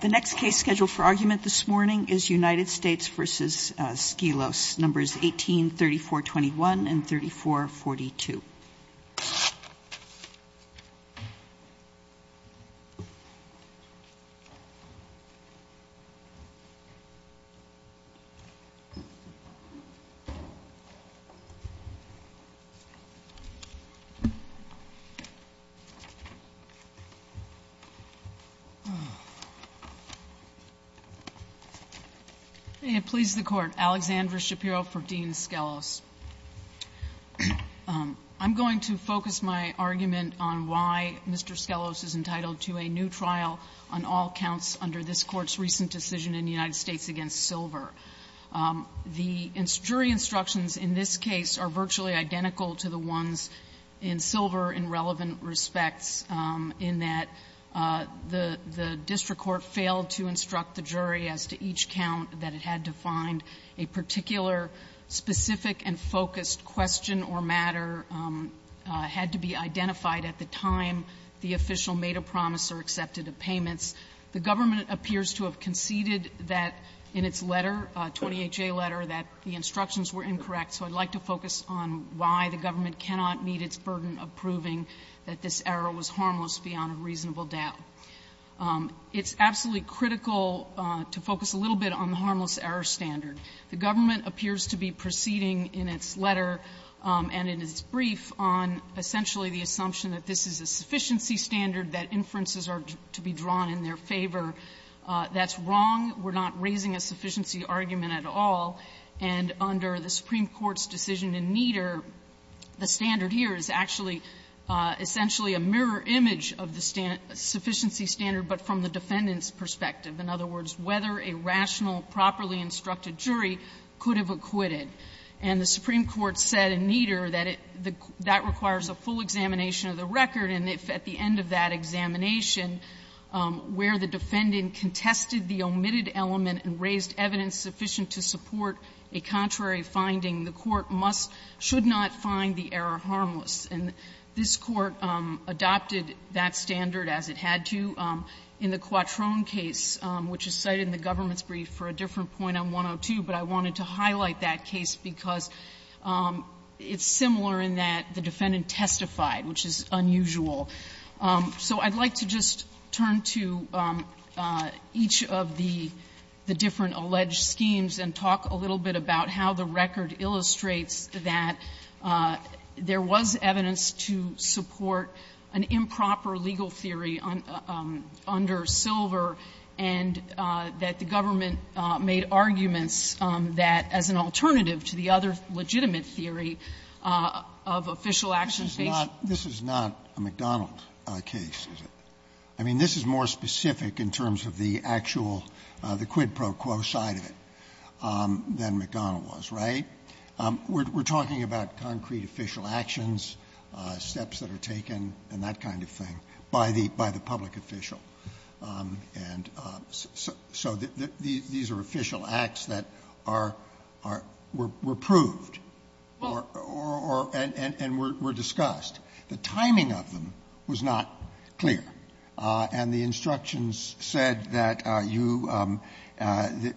The next case scheduled for argument this morning is United States v. Skelos, numbers 183421 and 3442. I'm going to focus my argument on why Mr. Skelos is entitled to a new trial on all counts under this Court's recent decision in the United States against Silver. The jury instructions in this case are virtually identical to the ones in Silver in relevant respects, in that the district court failed to provide a new trial for Skelos, which failed to instruct the jury as to each count, that it had to find a particular specific and focused question or matter had to be identified at the time the official made a promise or accepted the payments. The government appears to have conceded that in its letter, 28-J letter, that the instructions were incorrect. So I'd like to focus on why the government cannot meet its burden of proving that this error was harmless beyond a reasonable doubt. It's absolutely critical to focus a little bit on the harmless error standard. The government appears to be proceeding in its letter and in its brief on essentially the assumption that this is a sufficiency standard, that inferences are to be drawn in their favor. That's wrong. We're not raising a sufficiency argument at all. And under the Supreme Court's decision in Nieder, the standard here is actually essentially a mirror image of the sufficiency standard, but from the defendant's perspective. In other words, whether a rational, properly instructed jury could have acquitted. And the Supreme Court said in Nieder that it the that requires a full examination of the record, and if at the end of that examination, where the defendant contested the omitted element and raised evidence sufficient to support a contrary finding, the court must, should not find the error harmless. And this Court adopted that standard as it had to in the Quattrone case, which is cited in the government's brief for a different point on 102, but I wanted to highlight that case because it's similar in that the defendant testified, which is unusual. So I'd like to just turn to each of the different alleged schemes and talk a little bit about how the record illustrates that there was evidence to support an improper legal theory under Silver and that the government made arguments that as an alternative to the other legitimate theory of official action based. Scalia. This is not a McDonald case, is it? I mean, this is more specific in terms of the actual, the quid pro quo side of it than the McDonnell was, right? We're talking about concrete official actions, steps that are taken, and that kind of thing, by the public official. And so these are official acts that are, were proved or, and were discussed. The timing of them was not clear, and the instructions said that you,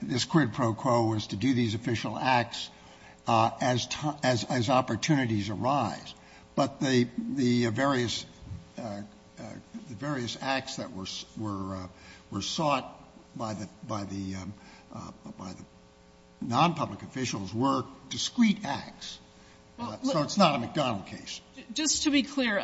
this quid pro quo was to do these official acts as, as opportunities arise. But the, the various, the various acts that were, were, were sought by the, by the, by the nonpublic officials were discrete acts, so it's not a McDonnell case. Just to be clear,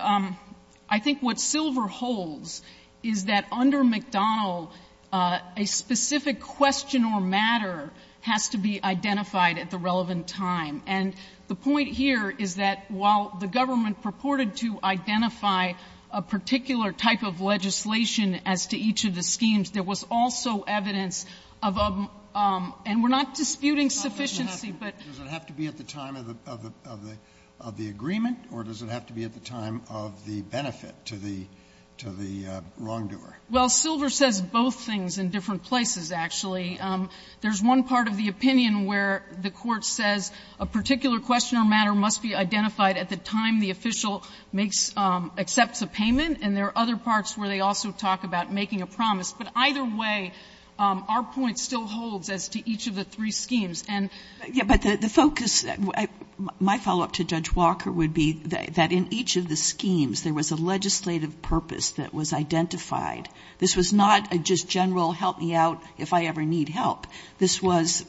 I think what Silver holds is that under McDonnell, a specific question or matter has to be identified at the relevant time. And the point here is that while the government purported to identify a particular type of legislation as to each of the schemes, there was also evidence of a, and we're not disputing sufficiency, but. But does it have to be at the time of the, of the, of the agreement, or does it have to be at the time of the benefit to the, to the wrongdoer? Well, Silver says both things in different places, actually. There's one part of the opinion where the Court says a particular question or matter must be identified at the time the official makes, accepts a payment, and there are other parts where they also talk about making a promise. But either way, our point still holds as to each of the three schemes. And. But the focus, my follow-up to Judge Walker would be that in each of the schemes there was a legislative purpose that was identified. This was not a just general help me out if I ever need help. This was,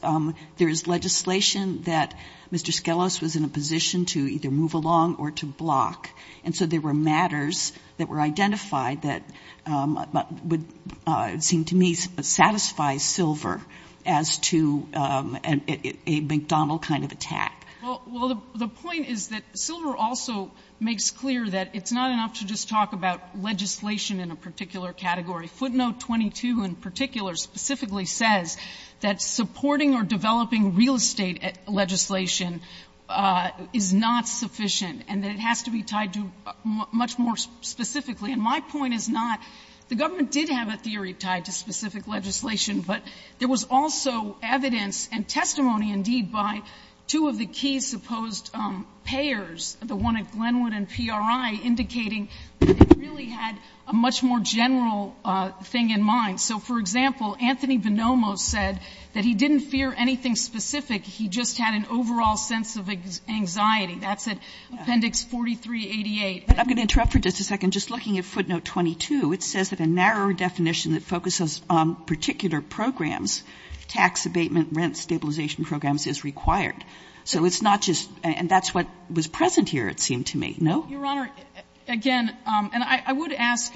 there is legislation that Mr. Skelos was in a position to either move along or to block. And so there were matters that were identified that would seem to me satisfy Silver as to a McDonnell kind of attack. Well, the point is that Silver also makes clear that it's not enough to just talk about legislation in a particular category. Footnote 22 in particular specifically says that supporting or developing real estate legislation is not sufficient and that it has to be tied to much more specifically. And my point is not, the government did have a theory tied to specific legislation, but there was also evidence and testimony, indeed, by two of the key supposed payers, the one at Glenwood and PRI, indicating that it really had a much more general thing in mind. So, for example, Anthony Bonomo said that he didn't fear anything specific, he just had an overall sense of anxiety. That's at Appendix 4388. But I'm going to interrupt for just a second, just looking at footnote 22. It says that a narrower definition that focuses on particular programs, tax abatement, rent stabilization programs, is required. So it's not just, and that's what was present here, it seemed to me, no? Your Honor, again, and I would ask,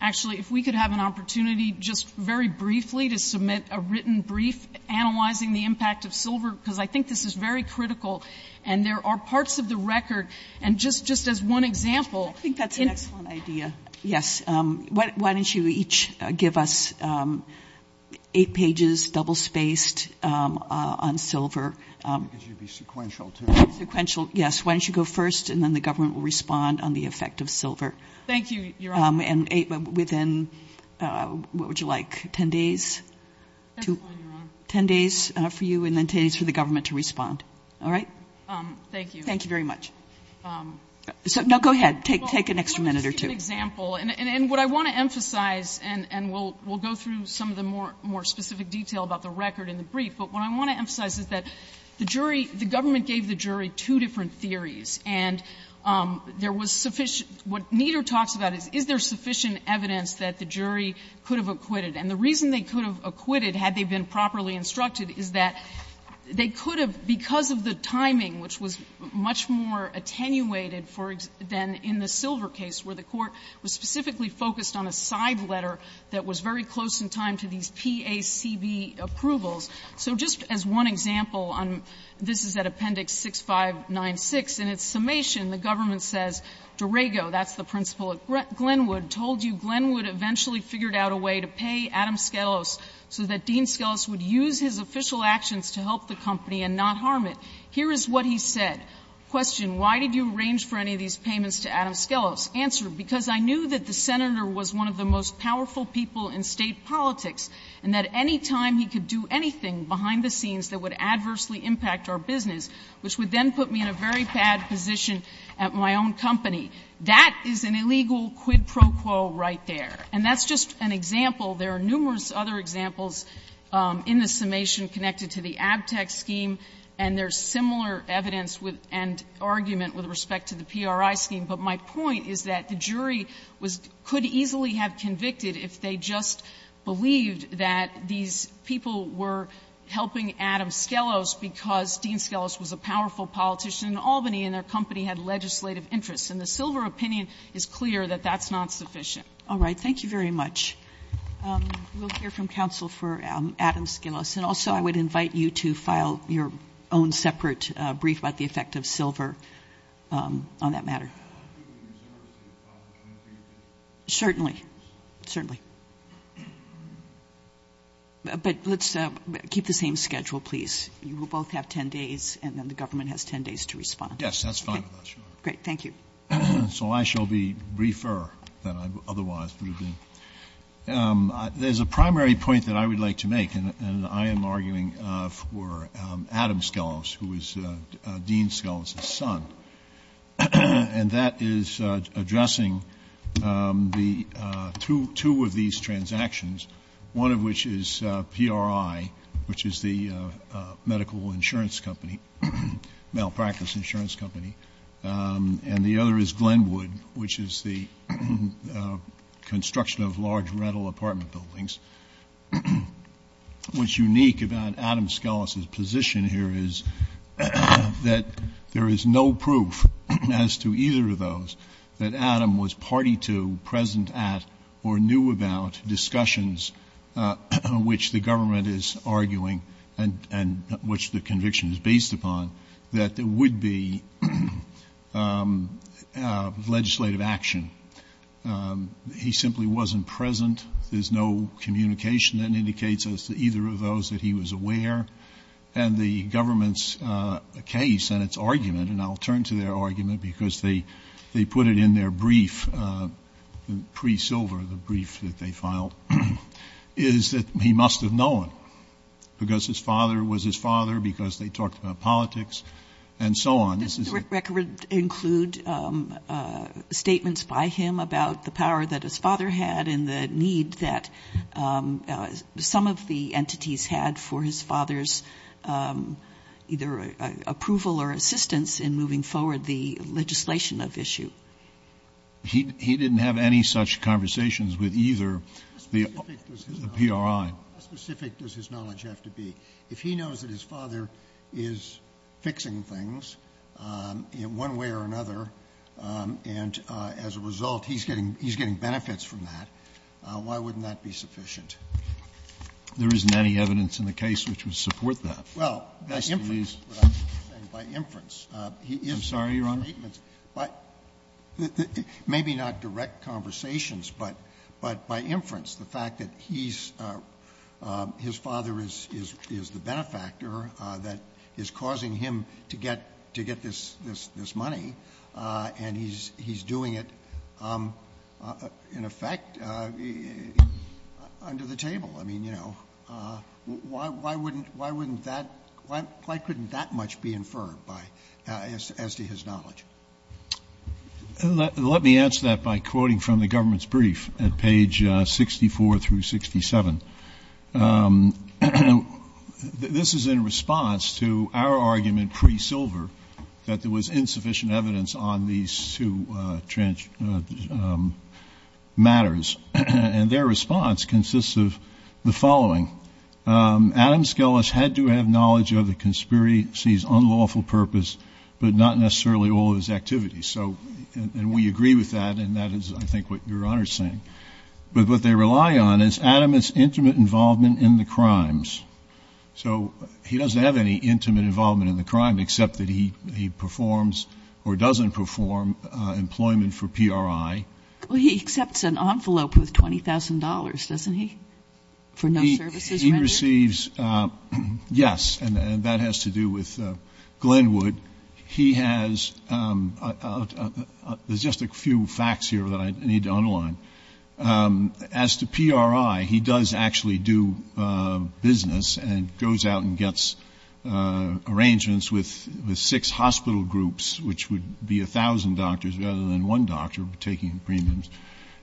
actually, if we could have an opportunity just very briefly to submit a written brief analyzing the impact of Silver, because I think this is very critical and there are parts of the record, and just as one example. I think that's an excellent idea. Yes. Why don't you each give us eight pages, double-spaced, on Silver. Because you'd be sequential, too. Sequential, yes. Why don't you go first and then the government will respond on the effect of Silver. Thank you, Your Honor. And within, what would you like, 10 days? 10 days for you and then 10 days for the government to respond. All right? Thank you. Thank you very much. So, no, go ahead. Take an extra minute or two. Just as an example, and what I want to emphasize, and we'll go through some of the more specific detail about the record in the brief, but what I want to emphasize is that the jury, the government gave the jury two different theories, and there was sufficient, what Nieder talks about is, is there sufficient evidence that the jury could have acquitted? And the reason they could have acquitted, had they been properly instructed, is that they could have, because of the timing, which was much more attenuated than in the Silver case, where the court was specifically focused on a side letter that was very close in time to these PACB approvals. So just as one example, this is at Appendix 6596, in its summation, the government says, Derego, that's the principal at Glenwood, told you Glenwood eventually figured out a way to pay Adam Skelos so that Dean Skelos would use his official actions to help the company and not harm it. Here is what he said. Question, why did you arrange for any of these payments to Adam Skelos? Answer, because I knew that the Senator was one of the most powerful people in State politics, and that any time he could do anything behind the scenes that would adversely impact our business, which would then put me in a very bad position at my own company. That is an illegal quid pro quo right there. And that's just an example. There are numerous other examples in the summation connected to the Abtex scheme, and there is similar evidence and argument with respect to the PRI scheme. But my point is that the jury could easily have convicted if they just believed that these people were helping Adam Skelos because Dean Skelos was a powerful politician in Albany and their company had legislative interests. And the silver opinion is clear that that's not sufficient. Sotomayor, thank you very much. We will hear from counsel for Adam Skelos. And also I would invite you to file your own separate brief about the effect of silver on that matter. I think we reserve the opportunity for you to do that. Certainly. Certainly. But let's keep the same schedule, please. You will both have ten days, and then the government has ten days to respond. Yes, that's fine with us. Great. Thank you. So I shall be briefer than I otherwise would have been. There is a primary point that I would like to make, and I am arguing for Adam Skelos, who was Dean Skelos' son. And that is addressing two of these transactions, one of which is PRI, which is the medical insurance company, malpractice insurance company, and the other is Glenwood, which is the construction of large rental apartment buildings. What's unique about Adam Skelos' position here is that there is no proof as to either of those that Adam was party to, present at, or knew about discussions which the government is arguing and which the conviction is based upon, that there would be legislative action. He simply wasn't present. There's no communication that indicates as to either of those that he was aware. And the government's case and its argument, and I'll turn to their argument because they put it in their brief, pre-Silver, the brief that they filed, is that he must have known because his father was his father, because they talked about politics, and so on. Does the record include statements by him about the power that his father had and the need that some of the entities had for his father's either approval or assistance in moving forward the legislation of issue? He didn't have any such conversations with either the PRI. How specific does his knowledge have to be? If he knows that his father is fixing things in one way or another, and as a result, he's getting benefits from that, why wouldn't that be sufficient? There isn't any evidence in the case which would support that. Well, by inference, what I'm saying, by inference, he is making statements. I'm sorry, Your Honor? Maybe not direct conversations, but by inference, the fact that his father is the benefactor that is causing him to get this money, and he's doing it, in effect, under the table. Why couldn't that much be inferred as to his knowledge? Let me answer that by quoting from the government's brief at page 64 through 67. This is in response to our argument pre-Silver that there was insufficient evidence on these two matters, and their response consists of the following. Adam Skelas had to have knowledge of the conspiracy's unlawful purpose, but not necessarily all of his activities. And we agree with that, and that is, I think, what Your Honor is saying. But what they rely on is Adam's intimate involvement in the crimes. So he doesn't have any intimate involvement in the crime, except that he performs or doesn't perform employment for PRI. Well, he accepts an envelope with $20,000, doesn't he, for no services rendered? He receives, yes, and that has to do with Glenwood. He has, there's just a few facts here that I need to underline. As to PRI, he does actually do business and goes out and gets arrangements with six hospital groups, which would be 1,000 doctors rather than one doctor taking premiums.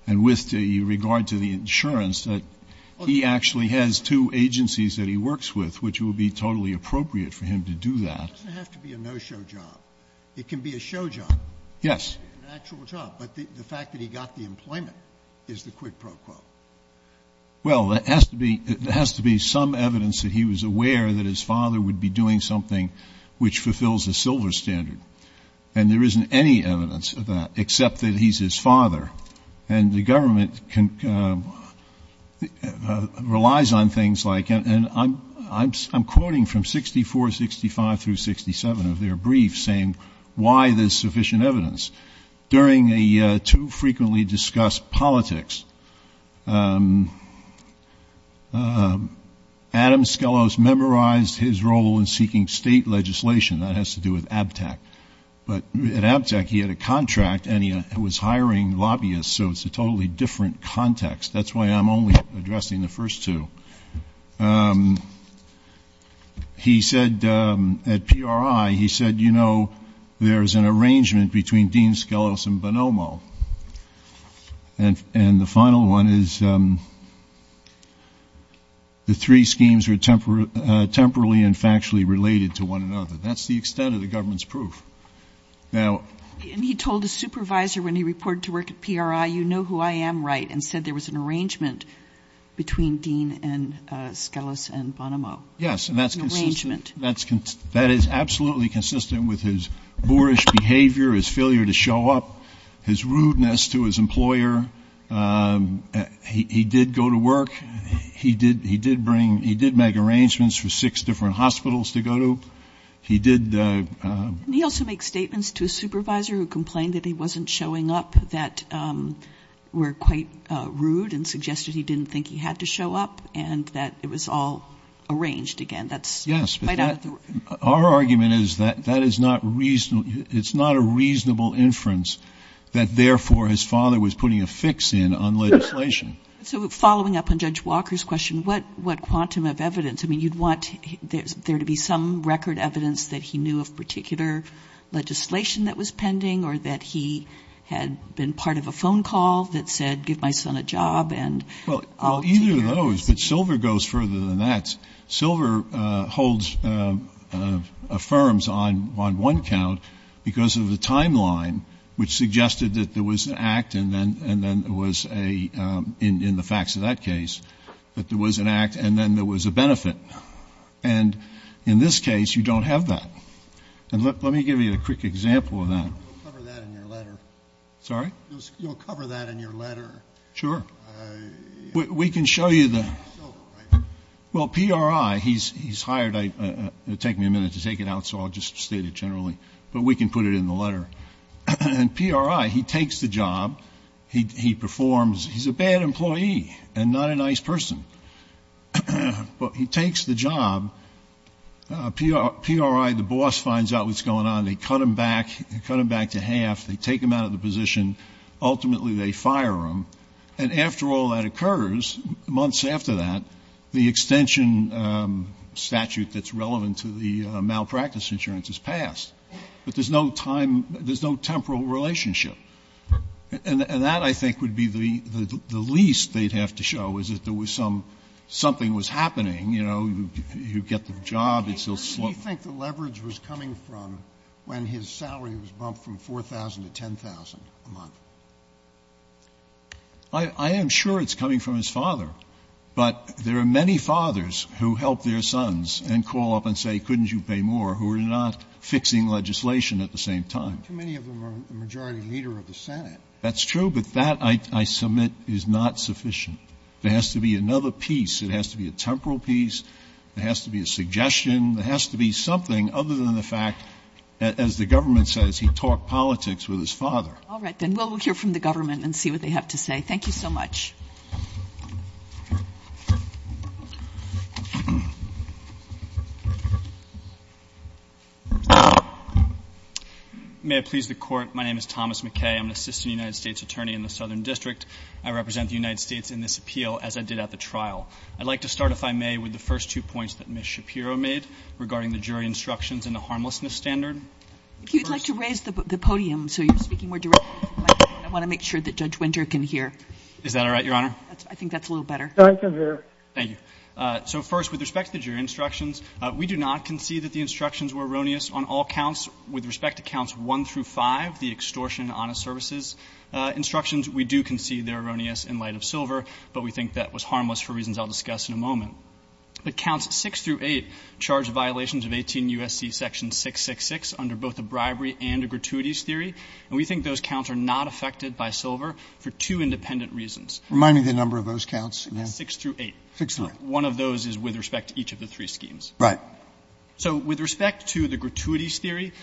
And with regard to the insurance, that he actually has two agencies that he works with, which would be totally appropriate for him to do that. It doesn't have to be a no-show job. It can be a show job. Yes. An actual job. But the fact that he got the employment is the quid pro quo. Well, there has to be some evidence that he was aware that his father would be doing something which fulfills a Silver standard. And there isn't any evidence of that, except that he's his father. And the government relies on things like, and I'm quoting from 64, 65 through 67 of their briefs saying why there's sufficient evidence. During a too frequently discussed politics, Adam Skelos memorized his role in seeking state legislation. That has to do with ABTAC. But at ABTAC, he had a contract and he was hiring lobbyists. So it's a totally different context. That's why I'm only addressing the first two. He said at PRI, he said, you know, there's an arrangement between Dean Skelos and Bonomo. And the final one is the three schemes are temporally and factually related to one another. That's the extent of the government's proof. Now. And he told a supervisor when he reported to work at PRI, you know who I am right, and said there was an arrangement between Dean and Skelos and Bonomo. Yes, and that's consistent. An arrangement. That is absolutely consistent with his boorish behavior, his failure to show up, his rudeness to his employer. He did go to work. He did make arrangements for six different hospitals to go to. He did. And he also makes statements to a supervisor who complained that he wasn't showing up that were quite rude and suggested he didn't think he had to show up and that it was all arranged again. Yes. Our argument is that that is not reasonable. It's not a reasonable inference that therefore his father was putting a fix in on legislation. So following up on Judge Walker's question, what quantum of evidence? I mean, you'd want there to be some record evidence that he knew of particular legislation that was pending or that he had been part of a phone call that said give my son a job and I'll take care of this. Well, either of those. But Silver goes further than that. Silver holds affirms on one count because of the timeline which suggested that there was an act and then there was a, in the facts of that case, that there was an act and then there was a benefit. And in this case, you don't have that. And let me give you a quick example of that. You'll cover that in your letter. Sorry? You'll cover that in your letter. Sure. We can show you the. Silver, right? Well, PRI, he's hired. It'll take me a minute to take it out, so I'll just state it generally. But we can put it in the letter. And PRI, he takes the job. He performs. He's a bad employee and not a nice person. But he takes the job. PRI, the boss, finds out what's going on. They cut him back. They cut him back to half. They take him out of the position. Ultimately, they fire him. And after all that occurs, months after that, the extension statute that's relevant to the malpractice insurance is passed. But there's no time. There's no temporal relationship. And that, I think, would be the least they'd have to show, is that there was some something was happening. You know, you get the job. It's still slow. Do you think the leverage was coming from when his salary was bumped from 4,000 to 10,000 a month? I am sure it's coming from his father. But there are many fathers who help their sons and call up and say, couldn't you pay more, who are not fixing legislation at the same time. Too many of them are the majority leader of the Senate. That's true. But that, I submit, is not sufficient. There has to be another piece. It has to be a temporal piece. It has to be a suggestion. It has to be something other than the fact that, as the government says, he taught politics with his father. All right. Then we'll hear from the government and see what they have to say. Thank you so much. May I please the court? My name is Thomas McKay. I'm an assistant United States attorney in the Southern District. I represent the United States in this appeal, as I did at the trial. I'd like to start, if I may, with the first two points that Ms. Shapiro made regarding the jury instructions and the harmlessness standard. If you'd like to raise the podium so you're speaking more directly to the Is that all right? Your Honor? I think that's a little better. Thank you, Your Honor. Thank you. So, first, with respect to the jury instructions, we do not concede that the instructions were erroneous on all counts. With respect to counts 1 through 5, the extortion and honest services instructions, we do concede they're erroneous in light of Silver. But we think that was harmless for reasons I'll discuss in a moment. But counts 6 through 8 charge violations of 18 U.S.C. section 666 under both a bribery and a gratuities theory. And we think those counts are not affected by Silver for two independent reasons. Remind me the number of those counts again. Six through eight. Six through eight. One of those is with respect to each of the three schemes. Right. So, with respect to the gratuities theory,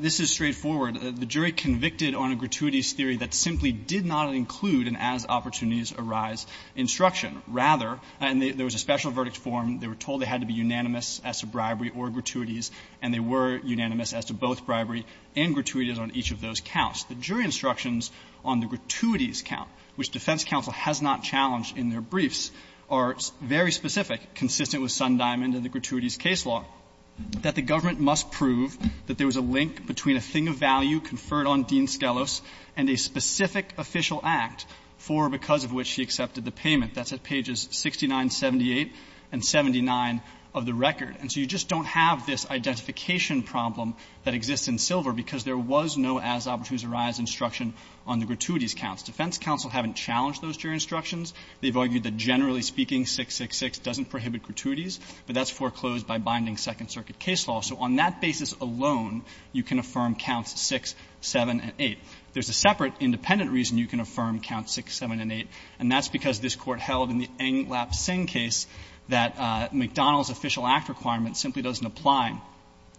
this is straightforward. The jury convicted on a gratuities theory that simply did not include an as opportunities arise instruction. Rather, and there was a special verdict form, they were told they had to be unanimous as to bribery or gratuities, and they were unanimous as to both bribery and gratuities on each of those counts. The jury instructions on the gratuities count, which defense counsel has not challenged in their briefs, are very specific, consistent with Sundiamond and the gratuities case law, that the government must prove that there was a link between a thing of value conferred on Dean Skelos and a specific official act for or because of which he accepted the payment. That's at pages 69, 78, and 79 of the record. And so you just don't have this identification problem that exists in Silver because there was no as opportunities arise instruction on the gratuities counts. Defense counsel haven't challenged those jury instructions. They've argued that, generally speaking, 666 doesn't prohibit gratuities, but that's foreclosed by binding Second Circuit case law. So on that basis alone, you can affirm counts 6, 7, and 8. There's a separate independent reason you can affirm counts 6, 7, and 8, and that's because this Court held in the Englap-Singh case that McDonald's official act requirement simply doesn't apply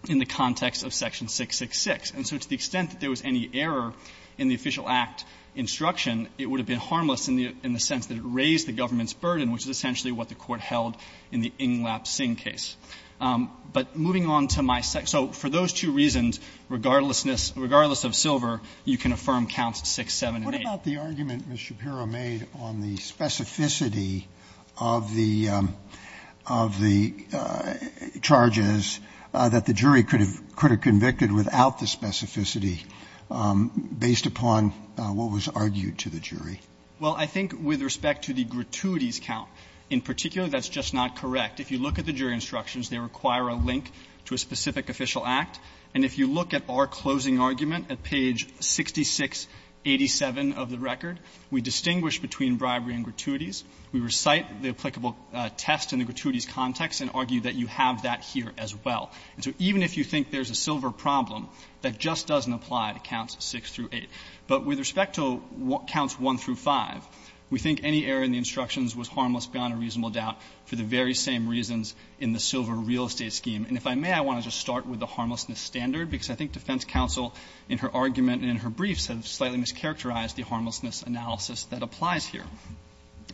in the context of section 666. And so to the extent that there was any error in the official act instruction, it would have been harmless in the sense that it raised the government's burden, which is essentially what the Court held in the Englap-Singh case. But moving on to my second, so for those two reasons, regardless of Silver, you can affirm counts 6, 7, and 8. Scalia. What about the argument Ms. Shapiro made on the specificity of the charges that the jury is entitled to based upon what was argued to the jury? Well, I think with respect to the gratuities count, in particular, that's just not correct. If you look at the jury instructions, they require a link to a specific official act. And if you look at our closing argument at page 6687 of the record, we distinguish between bribery and gratuities. We recite the applicable test in the gratuities context and argue that you have that here as well. And so even if you think there's a Silver problem, that just doesn't apply to counts 6 through 8. But with respect to counts 1 through 5, we think any error in the instructions was harmless beyond a reasonable doubt for the very same reasons in the Silver real estate scheme. And if I may, I want to just start with the harmlessness standard, because I think defense counsel in her argument and in her briefs have slightly mischaracterized the harmlessness analysis that applies here.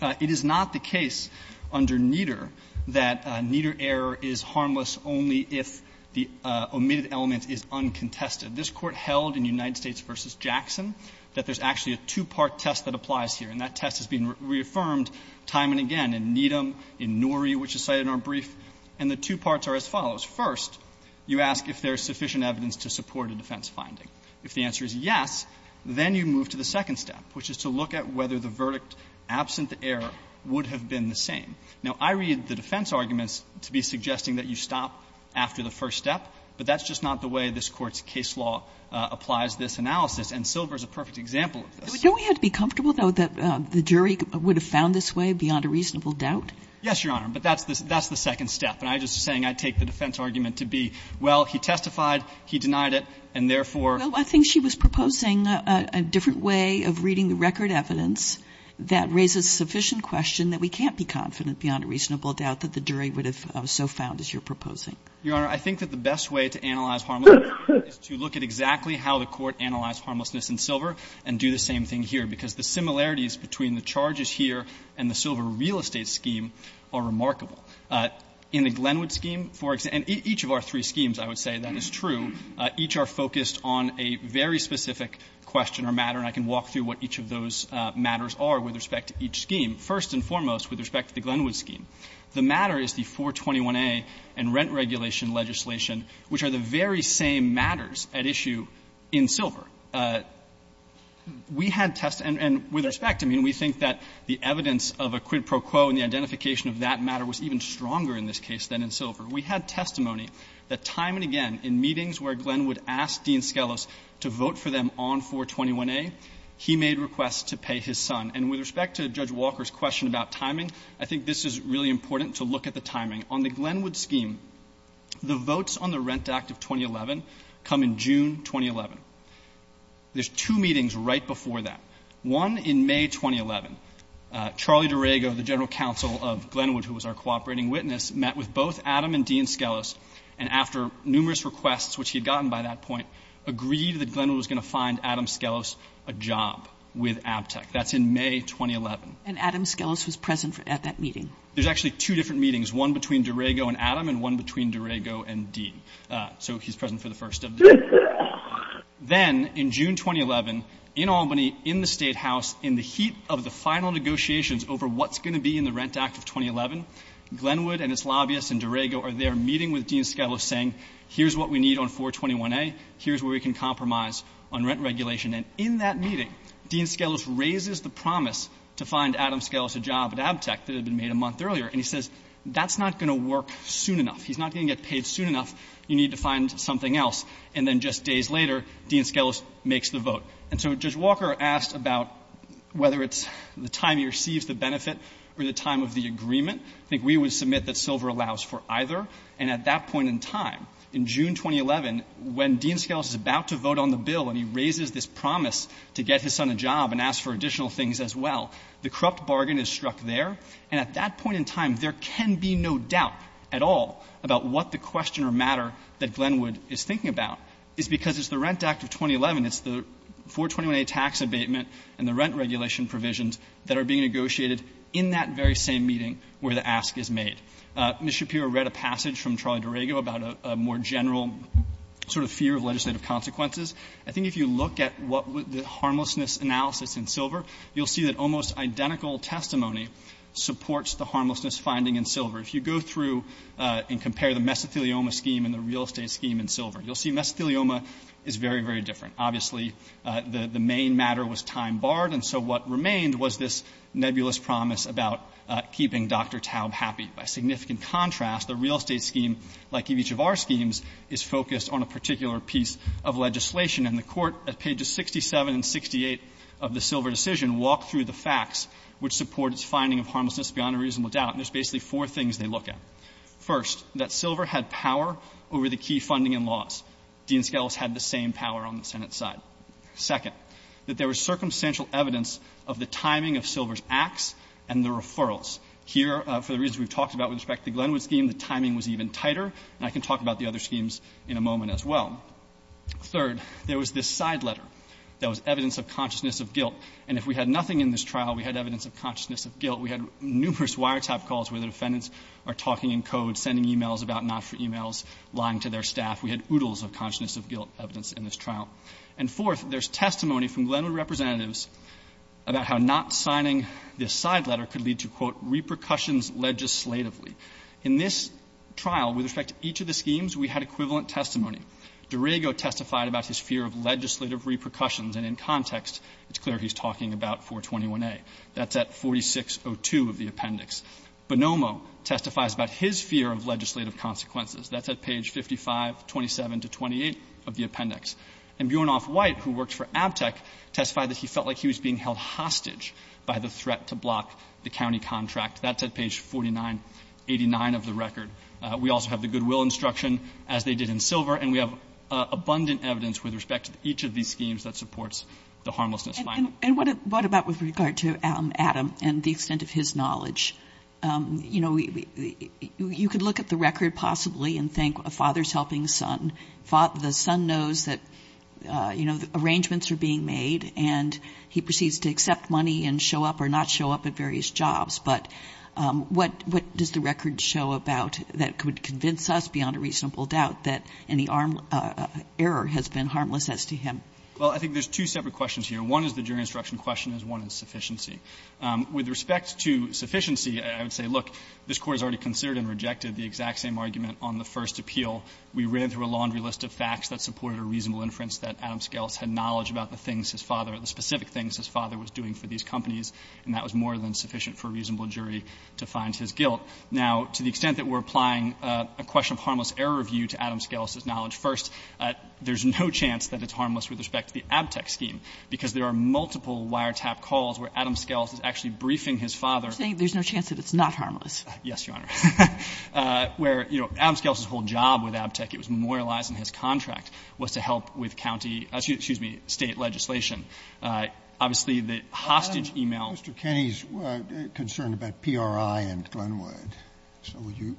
It is not the case under Nieder that Nieder error is harmless only if the omitted element is uncontested. This Court held in United States v. Jackson that there's actually a two-part test that applies here. And that test has been reaffirmed time and again in Niedem, in Norrie, which is cited in our brief. And the two parts are as follows. First, you ask if there's sufficient evidence to support a defense finding. If the answer is yes, then you move to the second step, which is to look at whether the verdict, absent the error, would have been the same. Now, I read the defense arguments to be suggesting that you stop after the first step, but that's just not the way this Court's case law applies this analysis. And Silver is a perfect example of this. Kagan. But don't we have to be comfortable, though, that the jury would have found this way beyond a reasonable doubt? Yes, Your Honor, but that's the second step. And I'm just saying I take the defense argument to be, well, he testified, he denied it, and therefore he's not going to be able to prove it. I'm just saying a different way of reading the record evidence that raises a sufficient question that we can't be confident beyond a reasonable doubt that the jury would have so found as you're proposing. Your Honor, I think that the best way to analyze harmlessness is to look at exactly how the Court analyzed harmlessness in Silver and do the same thing here, because the similarities between the charges here and the Silver real estate scheme are remarkable. In the Glenwood scheme, for example, and each of our three schemes, I would say, that is true, each are focused on a very specific question or matter, and I can walk through what each of those matters are with respect to each scheme. First and foremost, with respect to the Glenwood scheme, the matter is the 421a and rent regulation legislation, which are the very same matters at issue in Silver. We had test and with respect, I mean, we think that the evidence of a quid pro quo and the identification of that matter was even stronger in this case than in Silver. We had testimony that time and again in meetings where Glenwood asked Dean Skelos to vote for them on 421a, he made requests to pay his son. And with respect to Judge Walker's question about timing, I think this is really important to look at the timing. On the Glenwood scheme, the votes on the Rent Act of 2011 come in June 2011. There's two meetings right before that. One in May 2011. Charlie Derego, the general counsel of Glenwood, who was our cooperating witness, met with both Adam and Dean Skelos and after numerous requests, which he had gotten by that point, agreed that Glenwood was going to find Adam Skelos a job with ABTEC. That's in May 2011. And Adam Skelos was present at that meeting. There's actually two different meetings, one between Derego and Adam and one between Derego and Dean. So he's present for the first of them. Then in June 2011, in Albany, in the State House, in the heat of the final negotiations over what's going to be in the Rent Act of 2011, Glenwood and its lobbyists and Derego are there meeting with Dean Skelos saying, here's what we need on 421A, here's where we can compromise on rent regulation. And in that meeting, Dean Skelos raises the promise to find Adam Skelos a job at ABTEC that had been made a month earlier. And he says, that's not going to work soon enough. He's not going to get paid soon enough. You need to find something else. And then just days later, Dean Skelos makes the vote. And so Judge Walker asked about whether it's the time he receives the benefit or the time of the agreement. I think we would submit that silver allows for either. And at that point in time, in June 2011, when Dean Skelos is about to vote on the bill and he raises this promise to get his son a job and ask for additional things as well, the corrupt bargain is struck there. And at that point in time, there can be no doubt at all about what the question or matter that Glenwood is thinking about is because it's the Rent Act of 2011, it's the 421A tax abatement and the rent regulation provisions that are being negotiated in that very same meeting where the ask is made. Ms. Shapiro read a passage from Charlie Derego about a more general sort of fear of legislative consequences. I think if you look at what the harmlessness analysis in silver, you'll see that almost identical testimony supports the harmlessness finding in silver. If you go through and compare the mesothelioma scheme and the real estate scheme in silver, you'll see mesothelioma is very, very different. Obviously, the main matter was time barred. And so what remained was this nebulous promise about keeping Dr. Taub happy. By significant contrast, the real estate scheme, like each of our schemes, is focused on a particular piece of legislation. And the Court at pages 67 and 68 of the silver decision walked through the facts which support its finding of harmlessness beyond a reasonable doubt, and there's basically four things they look at. First, that silver had power over the key funding and laws. Dean Scalise had the same power on the Senate side. Second, that there was circumstantial evidence of the timing of silver's acts and the referrals. Here, for the reasons we've talked about with respect to the Glenwood scheme, the timing was even tighter. And I can talk about the other schemes in a moment as well. Third, there was this side letter that was evidence of consciousness of guilt. And if we had nothing in this trial, we had evidence of consciousness of guilt. We had numerous wiretap calls where the defendants are talking in code, sending e-mails about not-for-e-mails, lying to their staff. We had oodles of consciousness of guilt evidence in this trial. And fourth, there's testimony from Glenwood representatives about how not signing this side letter could lead to, quote, repercussions legislatively. In this trial, with respect to each of the schemes, we had equivalent testimony. Derego testified about his fear of legislative repercussions, and in context, it's clear he's talking about 421a. That's at 4602 of the appendix. Bonomo testifies about his fear of legislative consequences. That's at page 5527 to 28 of the appendix. And Bjornoff-White, who works for ABTEC, testified that he felt like he was being held hostage by the threat to block the county contract. That's at page 4989 of the record. We also have the goodwill instruction, as they did in Silver, and we have abundant evidence with respect to each of these schemes that supports the harmlessness. And what about with regard to Adam and the extent of his knowledge? You could look at the record possibly and think a father's helping son. The son knows that, you know, arrangements are being made, and he proceeds to accept money and show up or not show up at various jobs. But what does the record show about that could convince us, beyond a reasonable doubt, that any error has been harmless as to him? Well, I think there's two separate questions here. One is the jury instruction question, and one is sufficiency. With respect to sufficiency, I would say, look, this Court has already considered and rejected the exact same argument on the first appeal. We ran through a laundry list of facts that supported a reasonable inference that Adam Scalise had knowledge about the things his father, the specific things his father was doing for these companies, and that was more than sufficient for a reasonable jury to find his guilt. Now, to the extent that we're applying a question of harmless error review to Adam Scalise's knowledge, first, there's no chance that it's harmless with respect to the Abtec scheme, because there are multiple wiretap calls where Adam Scalise is actually briefing his father. There's no chance that it's not harmless. Yes, Your Honor. Where, you know, Adam Scalise's whole job with Abtec, it was memorialized in his contract, was to help with county — excuse me, State legislation. Obviously, the hostage email — Mr. Kenney's concerned about PRI and Glenwood. So would you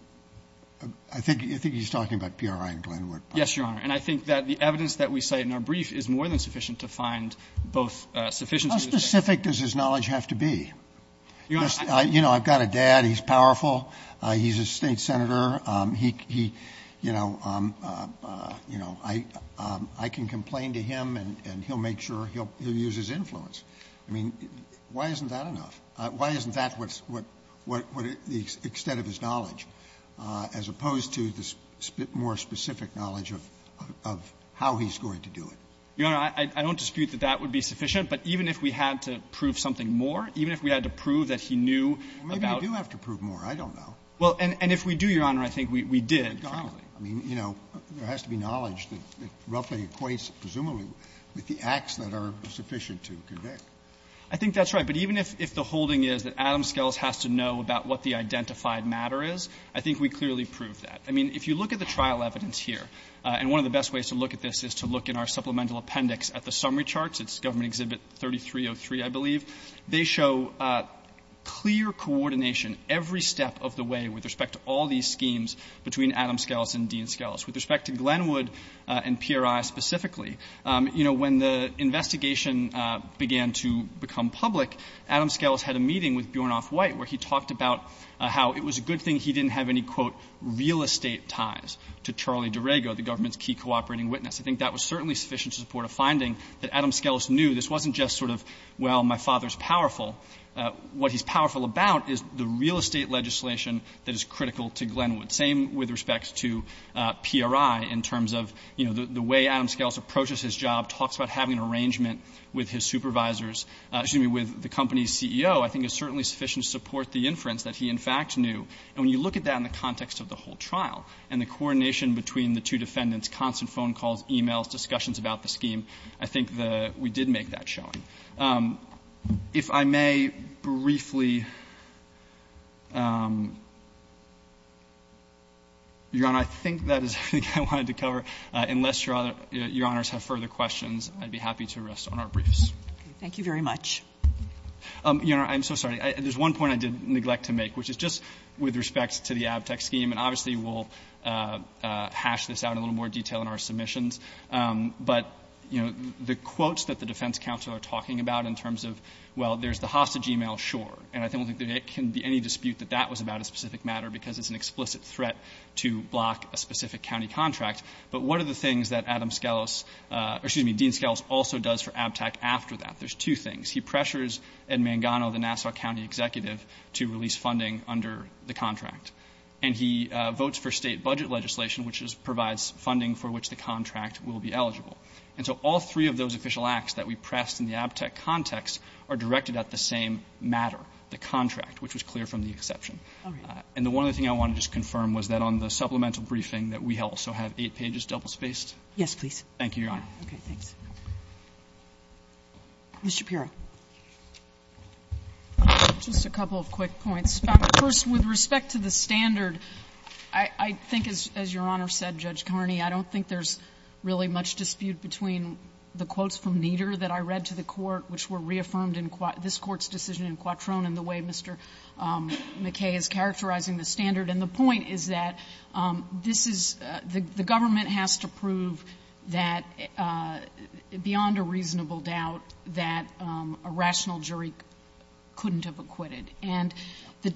— I think he's talking about PRI and Glenwood. Yes, Your Honor. And I think that the evidence that we cite in our brief is more than sufficient to find both sufficiency — How specific does his knowledge have to be? You know, I've got a dad. He's powerful. He's a State senator. He, you know, I can complain to him, and he'll make sure he'll use his influence. I mean, why isn't that enough? Why isn't that what the extent of his knowledge, as opposed to the more specific knowledge of how he's going to do it? Your Honor, I don't dispute that that would be sufficient, but even if we had to prove something more, even if we had to prove that he knew about — Well, maybe we do have to prove more. I don't know. Well, and if we do, Your Honor, I think we did. I mean, you know, there has to be knowledge that roughly equates, presumably, with the acts that are sufficient to convict. I think that's right. But even if the holding is that Adams-Skelos has to know about what the identified matter is, I think we clearly proved that. I mean, if you look at the trial evidence here, and one of the best ways to look coordination every step of the way with respect to all these schemes between Adams-Skelos and Dean-Skelos, with respect to Glenwood and PRI specifically, you know, when the investigation began to become public, Adams-Skelos had a meeting with Bjornoff White, where he talked about how it was a good thing he didn't have any, quote, real estate ties to Charlie Durego, the government's key cooperating witness. I think that was certainly sufficient to support a finding that Adams-Skelos knew this wasn't just sort of, well, my father's powerful. What he's powerful about is the real estate legislation that is critical to Glenwood. Same with respect to PRI in terms of, you know, the way Adams-Skelos approaches his job, talks about having an arrangement with his supervisors, excuse me, with the company's CEO, I think is certainly sufficient to support the inference that he in fact knew. And when you look at that in the context of the whole trial and the coordination between the two defendants, constant phone calls, e-mails, discussions about the case, he did make that showing. If I may briefly, Your Honor, I think that is everything I wanted to cover. Unless Your Honors have further questions, I'd be happy to rest on our briefs. Thank you very much. Your Honor, I'm so sorry. There's one point I did neglect to make, which is just with respect to the ABTEC scheme, and obviously we'll hash this out in a little more detail in our submissions, but, you know, the quotes that the defense counsel are talking about in terms of, well, there's the hostage e-mail, sure, and I don't think there can be any dispute that that was about a specific matter because it's an explicit threat to block a specific county contract, but what are the things that Adam-Skelos, or excuse me, Dean-Skelos also does for ABTEC after that? There's two things. He pressures Ed Mangano, the Nassau County executive, to release funding under the contract, and he votes for state budget legislation, which provides funding for which the contract will be eligible. And so all three of those official acts that we pressed in the ABTEC context are directed at the same matter, the contract, which was clear from the exception. And the one other thing I want to just confirm was that on the supplemental briefing that we also have eight pages double-spaced? Yes, please. Thank you, Your Honor. Okay, thanks. Ms. Shapiro. Just a couple of quick points. First, with respect to the standard, I think, as Your Honor said, Judge Kearney, I don't think there's really much dispute between the quotes from Nieder that I read to the Court, which were reaffirmed in this Court's decision in Quattrone and the way Mr. McKay is characterizing the standard. And the point is that this is the government has to prove that, beyond a reasonable doubt, that a rational jury couldn't have acquitted. And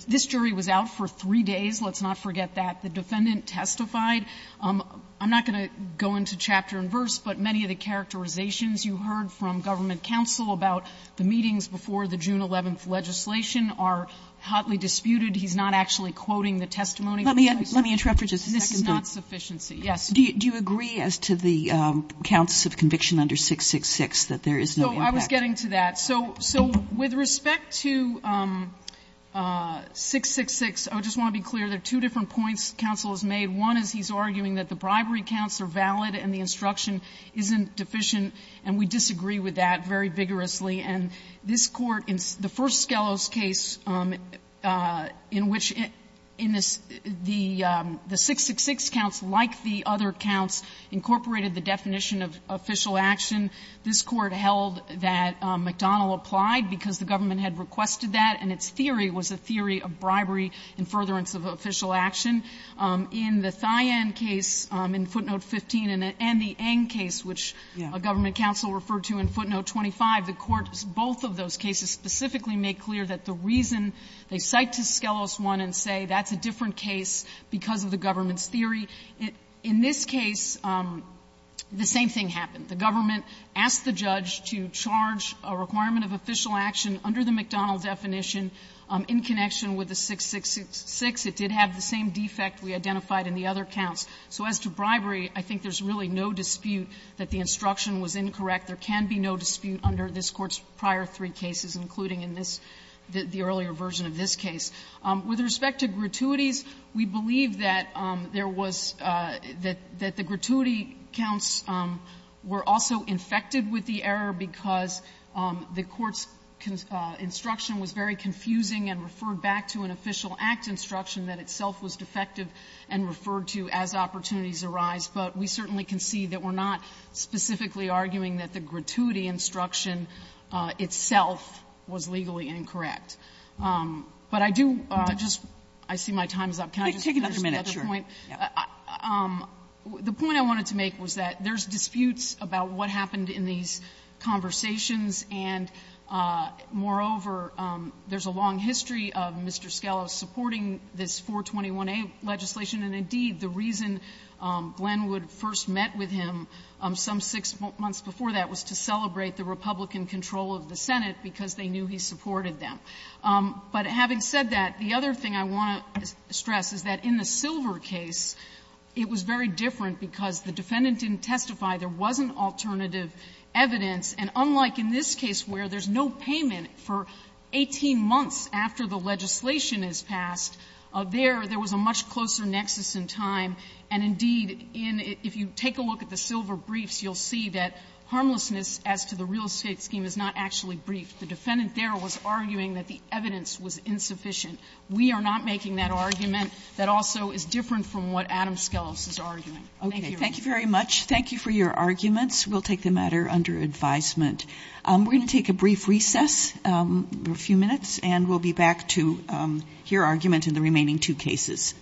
this jury was out for three days. Let's not forget that. The defendant testified. I'm not going to go into chapter and verse, but many of the characterizations you heard from government counsel about the meetings before the June 11th legislation are hotly disputed. He's not actually quoting the testimony. Let me interrupt for just a second. This is not sufficiency. Yes. Do you agree as to the counts of conviction under 666 that there is no impact? So I was getting to that. So with respect to 666, I just want to be clear, there are two different points that this counsel has made. One is he's arguing that the bribery counts are valid and the instruction isn't deficient, and we disagree with that very vigorously. And this Court, in the first Skelos case, in which in this the 666 counts, like the other counts, incorporated the definition of official action, this Court held that McDonnell applied because the government had requested that, and its theory was a theory of bribery and furtherance of official action. In the Thien case in footnote 15 and the Ng case, which a government counsel referred to in footnote 25, the Court's both of those cases specifically made clear that the reason they cite to Skelos 1 and say that's a different case because of the government's theory, in this case, the same thing happened. The government asked the judge to charge a requirement of official action under the McDonnell definition in connection with the 666. It did have the same defect we identified in the other counts. So as to bribery, I think there's really no dispute that the instruction was incorrect. There can be no dispute under this Court's prior three cases, including in this the earlier version of this case. With respect to gratuities, we believe that there was the gratuity counts were also defected with the error because the Court's instruction was very confusing and referred back to an official act instruction that itself was defective and referred to as opportunities arise, but we certainly can see that we're not specifically arguing that the gratuity instruction itself was legally incorrect. But I do just see my time is up. Can I just address the other point? Kaganon, sure, yeah. The point I wanted to make was that there's disputes about what happened in these conversations, and moreover, there's a long history of Mr. Scalia supporting this 421a legislation, and indeed, the reason Glenn would first met with him some six months before that was to celebrate the Republican control of the Senate because they knew he supported them. But having said that, the other thing I want to stress is that in the Silver case, it was very different because the defendant didn't testify. There wasn't alternative evidence, and unlike in this case where there's no payment for 18 months after the legislation is passed, there, there was a much closer nexus in time, and indeed, if you take a look at the Silver briefs, you'll see that harmlessness as to the real estate scheme is not actually briefed. The defendant there was arguing that the evidence was insufficient. We are not making that argument. That also is different from what Adam Skelos is arguing. Thank you, Your Honor. Okay. Thank you very much. Thank you for your arguments. We'll take the matter under advisement. We're going to take a brief recess, a few minutes, and we'll be back to hear argument in the remaining two cases.